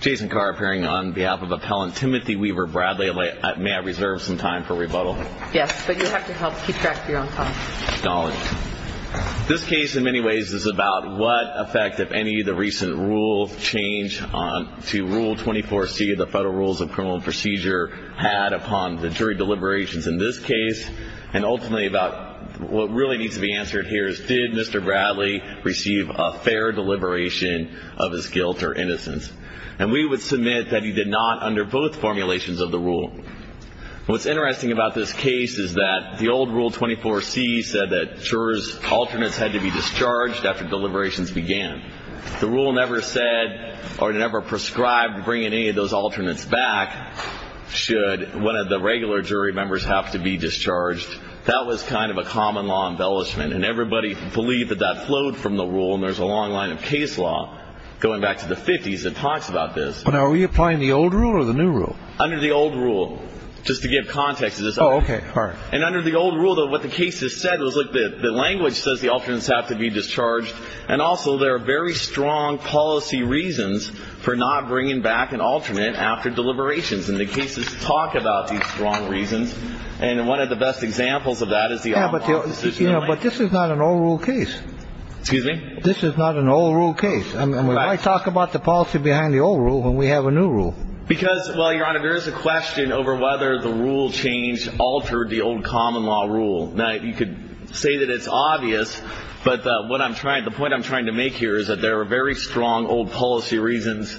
Jason Carr appearing on behalf of appellant Timothy Weaver Bradley. May I reserve some time for rebuttal? Yes, but you have to help keep track of your own time. Acknowledged. This case in many ways is about what effect, if any, the recent rule change to Rule 24C of the Federal Rules of Criminal Procedure had upon the jury deliberations in this case, and ultimately about what really needs to be answered here is did Mr. Bradley receive a fair deliberation of his guilt or innocence. And we would submit that he did not under both formulations of the rule. What's interesting about this case is that the old Rule 24C said that jurors' alternates had to be discharged after deliberations began. The rule never said or never prescribed bringing any of those alternates back should one of the regular jury members have to be discharged. That was kind of a common law embellishment, and everybody believed that that flowed from the rule. And there's a long line of case law going back to the 50s that talks about this. But are we applying the old rule or the new rule? Under the old rule. Just to give context to this. Oh, okay. All right. And under the old rule, though, what the case has said was, look, the language says the alternates have to be discharged, and also there are very strong policy reasons for not bringing back an alternate after deliberations. And the cases talk about these strong reasons. And one of the best examples of that is the off-balance decision. But this is not an old rule case. Excuse me? This is not an old rule case. And why talk about the policy behind the old rule when we have a new rule? Because, well, Your Honor, there is a question over whether the rule change altered the old common law rule. Now, you could say that it's obvious, but the point I'm trying to make here is that there are very strong old policy reasons,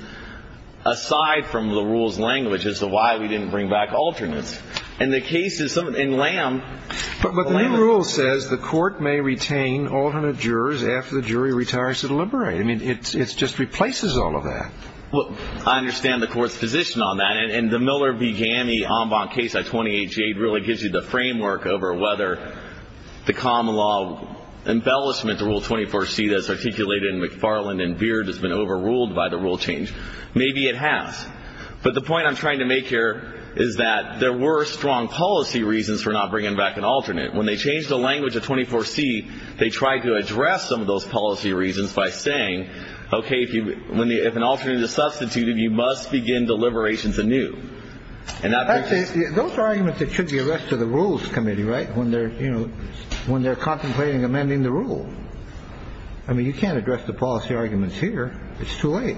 aside from the rule's language as to why we didn't bring back alternates. And the case is something – and Lamb – But the new rule says the court may retain alternate jurors after the jury retires to deliberate. I mean, it just replaces all of that. Well, I understand the court's position on that. And the Miller v. Gammy en banc case at 28G8 really gives you the framework over whether the common law embellishment, the Rule 24C that's articulated in McFarland and Beard has been overruled by the rule change. Maybe it has. But the point I'm trying to make here is that there were strong policy reasons for not bringing back an alternate. When they changed the language of 24C, they tried to address some of those policy reasons by saying, OK, if an alternate is substituted, you must begin deliberations anew. Those are arguments that should be addressed to the Rules Committee, right, when they're – you know, when they're contemplating amending the rule. I mean, you can't address the policy arguments here. It's too late.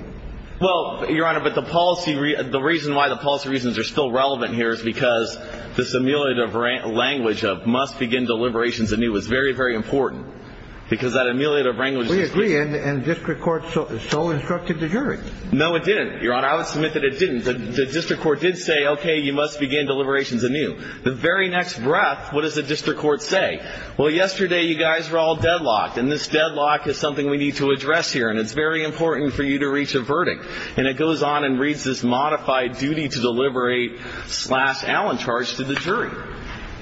Well, Your Honor, but the policy – the reason why the policy reasons are still relevant here is because this ameliorative language of must begin deliberations anew is very, very important, because that ameliorative language is – We agree, and district court so instructed the jury. No, it didn't, Your Honor. I would submit that it didn't. The district court did say, OK, you must begin deliberations anew. The very next breath, what does the district court say? Well, yesterday, you guys were all deadlocked, and this deadlock is something we need to address here, and it's very important for you to reach a verdict. And it goes on and reads this modified duty to deliberate slash Allen charge to the jury.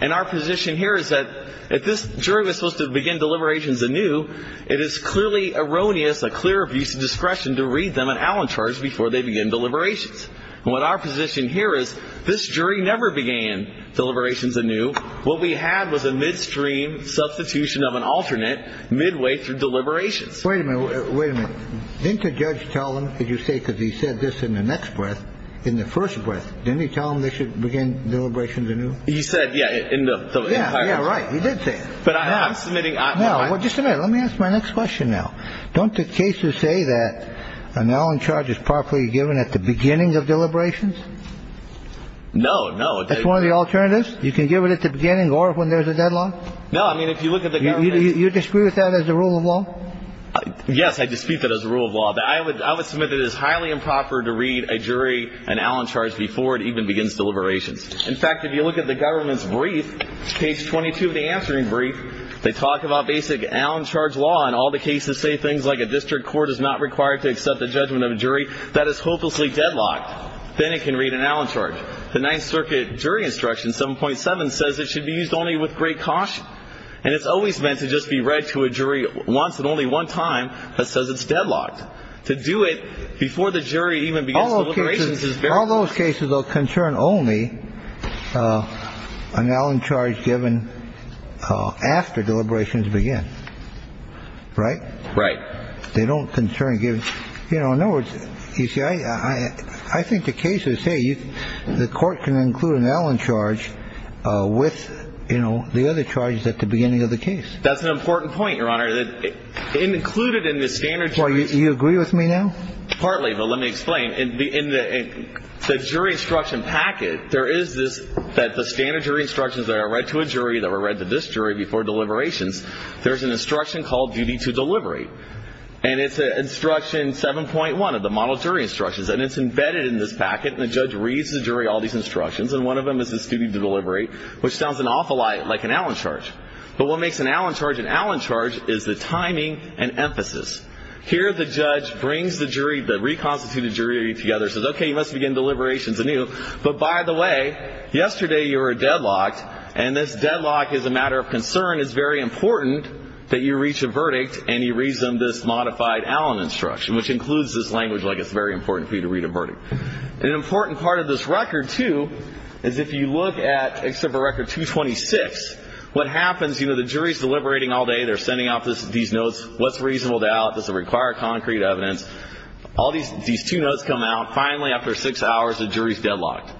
And our position here is that if this jury was supposed to begin deliberations anew, it is clearly erroneous, a clear abuse of discretion to read them an Allen charge before they begin deliberations. And what our position here is this jury never began deliberations anew. What we had was a midstream substitution of an alternate midway through deliberations. Wait a minute. Wait a minute. Didn't the judge tell them, as you say, because he said this in the next breath, in the first breath, didn't he tell them they should begin deliberations anew? He said, yeah, in the – Yeah, yeah, right. He did say it. But I'm submitting – Now, just a minute. Let me ask my next question now. Don't the cases say that an Allen charge is properly given at the beginning of deliberations? No, no. That's one of the alternatives? You can give it at the beginning or when there's a deadlock? No. I mean, if you look at the government – You disagree with that as a rule of law? Yes, I dispute that as a rule of law. But I would submit that it is highly improper to read a jury an Allen charge before it even begins deliberations. In fact, if you look at the government's brief, case 22 of the answering brief, they talk about basic Allen charge law and all the cases say things like a district court is not required to accept the judgment of a jury. That is hopelessly deadlocked. Then it can read an Allen charge. The Ninth Circuit jury instruction, 7.7, says it should be used only with great caution. And it's always meant to just be read to a jury once and only one time that says it's deadlocked. To do it before the jury even begins deliberations is very – All those cases will concern only an Allen charge given after deliberations begin. Right? Right. They don't concern giving – you know, in other words, you see, I think the case is, hey, the court can include an Allen charge with, you know, the other charges at the beginning of the case. That's an important point, Your Honor. Included in the standard jury's – Well, you agree with me now? Partly, but let me explain. In the jury instruction packet, there is this – that the standard jury instructions that are read to a jury, that were read to this jury before deliberations, there's an instruction called duty to deliberate. And it's instruction 7.1 of the model jury instructions, and it's embedded in this packet, and the judge reads the jury all these instructions, and one of them is this duty to deliberate, which sounds an awful lot like an Allen charge. But what makes an Allen charge an Allen charge is the timing and emphasis. Here the judge brings the jury – the reconstituted jury together and says, okay, you must begin deliberations anew. But by the way, yesterday you were deadlocked, and this deadlock is a matter of concern. It's very important that you reach a verdict, and he reads them this modified Allen instruction, which includes this language, like it's very important for you to read a verdict. An important part of this record, too, is if you look at – except for record 226, what happens, you know, the jury's deliberating all day, they're sending out these notes, what's reasonable doubt, does it require concrete evidence. All these two notes come out. Finally, after six hours, the jury's deadlocked,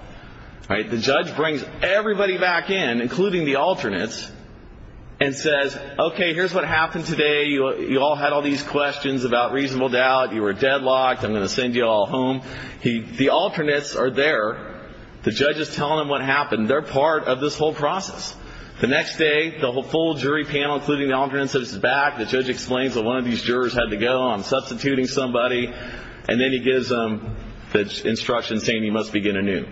right? The judge brings everybody back in, including the alternates, and says, okay, here's what happened today. You all had all these questions about reasonable doubt. You were deadlocked. I'm going to send you all home. The alternates are there. The judge is telling them what happened. They're part of this whole process. The next day, the whole jury panel, including the alternates, is back. The judge explains that one of these jurors had to go on substituting somebody, and then he gives them the instructions saying you must begin anew.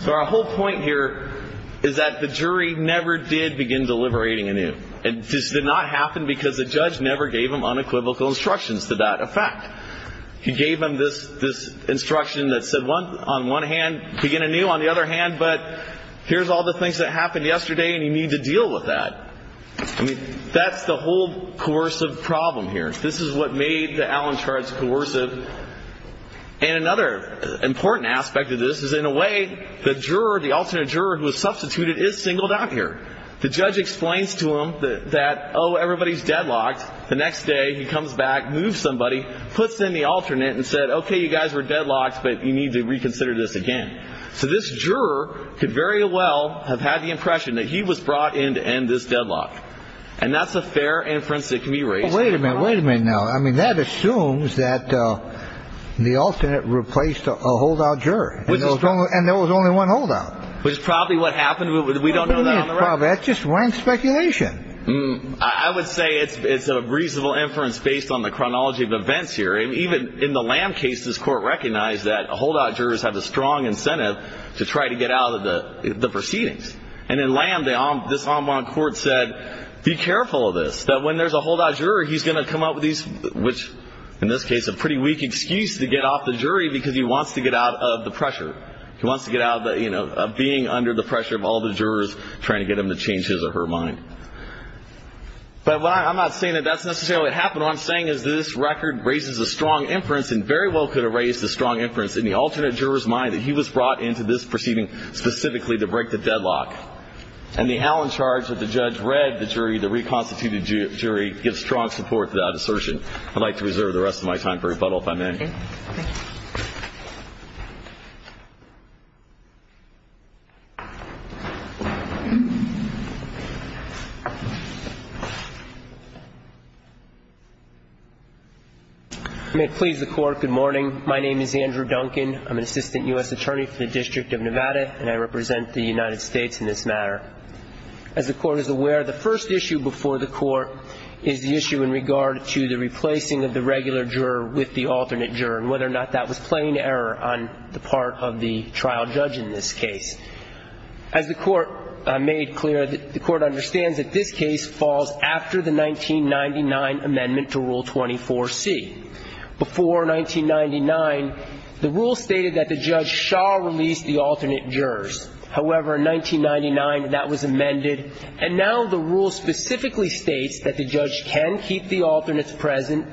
So our whole point here is that the jury never did begin deliberating anew. This did not happen because the judge never gave them unequivocal instructions to that effect. He gave them this instruction that said, on one hand, begin anew, on the other hand, but here's all the things that happened yesterday, and you need to deal with that. I mean, that's the whole coercive problem here. This is what made the Allen charts coercive. And another important aspect of this is, in a way, the juror, the alternate juror who was substituted, is singled out here. The judge explains to them that, oh, everybody's deadlocked. The next day, he comes back, moves somebody, puts in the alternate, and said, okay, you guys were deadlocked, but you need to reconsider this again. So this juror could very well have had the impression that he was brought in to end this deadlock, and that's a fair inference that can be raised. Wait a minute. Wait a minute now. I mean, that assumes that the alternate replaced a holdout juror, and there was only one holdout. Which is probably what happened. We don't know that on the record. That's just rand speculation. I would say it's a reasonable inference based on the chronology of events here. Even in the Lamb case, this court recognized that holdout jurors have a strong incentive to try to get out of the proceedings. And in Lamb, this en banc court said, be careful of this, that when there's a holdout juror, he's going to come up with these, which, in this case, a pretty weak excuse to get off the jury because he wants to get out of the pressure. He wants to get out of being under the pressure of all the jurors trying to get him to change his or her mind. But I'm not saying that that's necessarily what happened. What I'm saying is that this record raises a strong inference and very well could have raised a strong inference in the alternate juror's mind that he was brought into this proceeding specifically to break the deadlock. And the Allen charge that the judge read the jury, the reconstituted jury, gives strong support to that assertion. I'd like to reserve the rest of my time for rebuttal if I may. Thank you. I may please the Court. Good morning. My name is Andrew Duncan. I'm an assistant U.S. attorney for the District of Nevada, and I represent the United States in this matter. As the Court is aware, the first issue before the Court is the issue in regard to the replacing of the regular juror with the alternate juror and whether or not that was plain error on the part of the trial judge in this case. As the Court made clear, the Court understands that this case falls after the 1999 amendment to Rule 24C. Before 1999, the rule stated that the judge shall release the alternate jurors. However, in 1999, that was amended, and now the rule specifically states that the judge can keep the alternates present,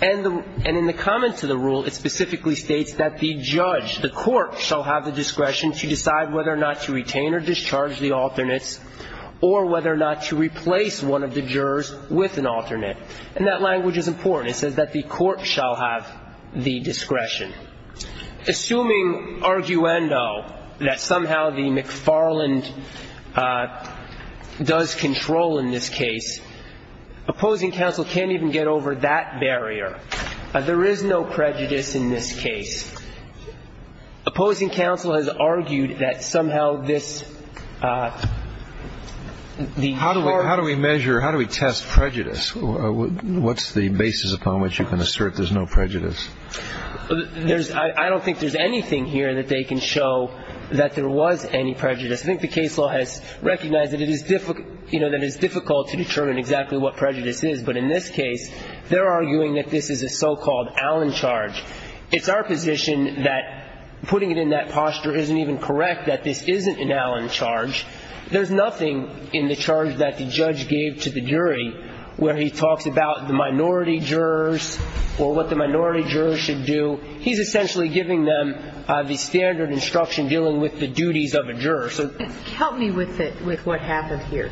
and in the comments of the rule, it specifically states that the judge, the court, shall have the discretion to decide whether or not to retain or discharge the alternates or whether or not to replace one of the jurors with an alternate. And that language is important. It says that the court shall have the discretion. Assuming arguendo, that somehow the McFarland does control in this case, opposing counsel can't even get over that barrier. There is no prejudice in this case. Opposing counsel has argued that somehow this, the McFarland. How do we measure, how do we test prejudice? What's the basis upon which you can assert there's no prejudice? I don't think there's anything here that they can show that there was any prejudice. I think the case law has recognized that it is difficult to determine exactly what prejudice is, but in this case, they're arguing that this is a so-called Allen charge. It's our position that putting it in that posture isn't even correct, that this isn't an Allen charge. There's nothing in the charge that the judge gave to the jury where he talks about the minority jurors or what the minority jurors should do. He's essentially giving them the standard instruction dealing with the duties of a juror. Help me with what happened here.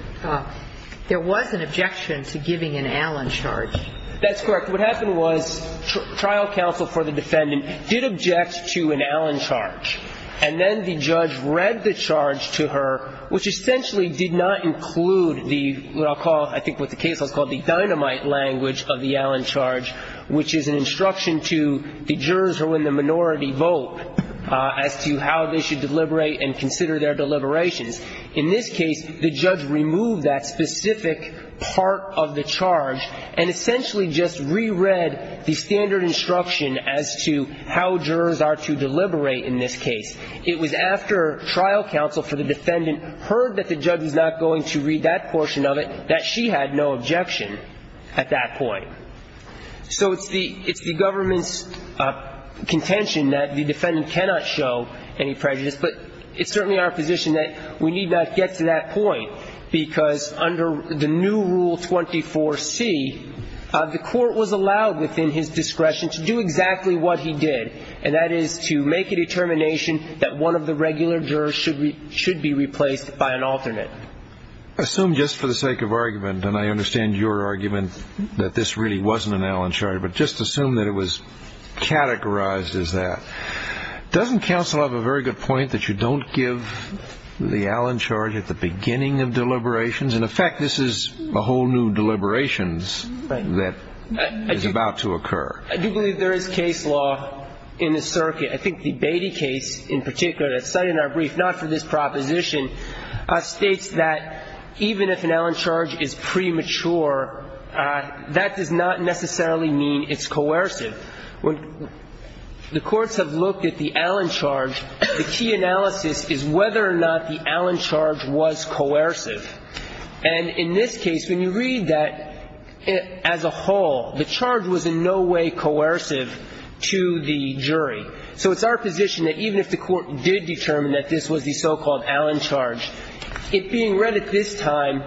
There was an objection to giving an Allen charge. That's correct. What happened was trial counsel for the defendant did object to an Allen charge, and then the judge read the charge to her, which essentially did not include the, what I'll call, I think what the case law's called, the dynamite language of the Allen charge, which is an instruction to the jurors who are in the minority vote as to how they should deliberate and consider their deliberations. In this case, the judge removed that specific part of the charge and essentially just reread the standard instruction as to how jurors are to deliberate in this case. It was after trial counsel for the defendant heard that the judge was not going to read that portion of it that she had no objection at that point. So it's the government's contention that the defendant cannot show any prejudice, but it's certainly our position that we need not get to that point, because under the new Rule 24C, the court was allowed within his discretion to do exactly what he did, and that is to make a determination that one of the regular jurors should be replaced by an alternate. Assume just for the sake of argument, and I understand your argument that this really wasn't an Allen charge, but just assume that it was categorized as that. Doesn't counsel have a very good point that you don't give the Allen charge at the beginning of deliberations? In effect, this is a whole new deliberations that is about to occur. I do believe there is case law in the circuit. I think the Beatty case in particular that's cited in our brief, not for this proposition, states that even if an Allen charge is premature, that does not necessarily mean it's coercive. When the courts have looked at the Allen charge, the key analysis is whether or not the Allen charge was coercive. And in this case, when you read that as a whole, the charge was in no way coercive to the jury. So it's our position that even if the court did determine that this was the so-called Allen charge, it being read at this time,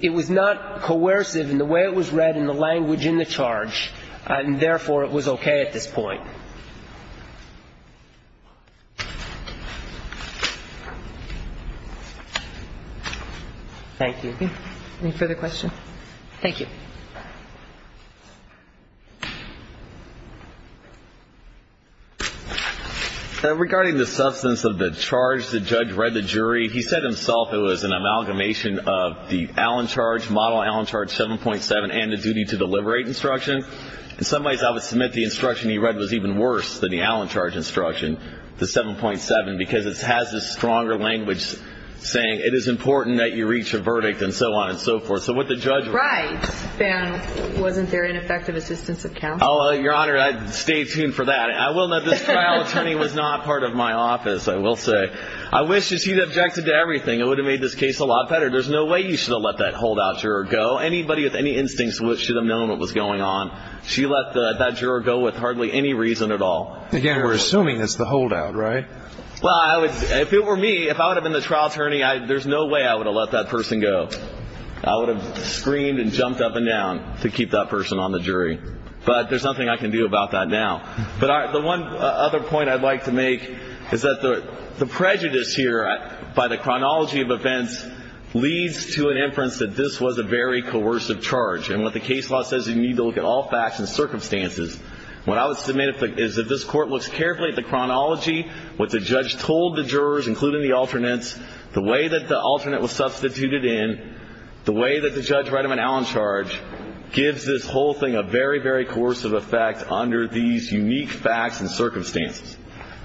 it was not coercive in the way it was read and the language in the charge, and therefore it was okay at this point. Thank you. Any further questions? Thank you. Regarding the substance of the charge, the judge read the jury. He said himself it was an amalgamation of the Allen charge, model Allen charge 7.7, and the duty to deliberate instruction. In some ways, I would submit the instruction he read was even worse than the Allen charge instruction, the 7.7, because it has this stronger language saying it is important that you reach a verdict and so on and so forth. So what the judge read. Right. Then wasn't there an effective assistance of counsel? Your Honor, stay tuned for that. I will note this trial attorney was not part of my office, I will say. I wish he'd objected to everything. It would have made this case a lot better. There's no way you should have let that hold out to her or go. Anybody with any instincts should have known what was going on. She let that juror go with hardly any reason at all. Again, we're assuming it's the holdout, right? Well, if it were me, if I would have been the trial attorney, there's no way I would have let that person go. I would have screamed and jumped up and down to keep that person on the jury. But there's nothing I can do about that now. But the one other point I'd like to make is that the prejudice here by the chronology of events leads to an inference that this was a very coercive charge. And what the case law says you need to look at all facts and circumstances. What I would submit is that this court looks carefully at the chronology, what the judge told the jurors, including the alternates, the way that the alternate was substituted in, the way that the judge read him an Allen charge, gives this whole thing a very, very coercive effect under these unique facts and circumstances.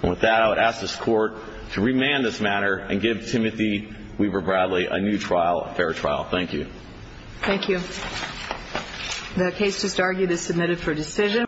And with that, I would ask this court to remand this matter and give Timothy Weaver Bradley a new trial, a fair trial. Thank you. Thank you. The case just argued is submitted for decision.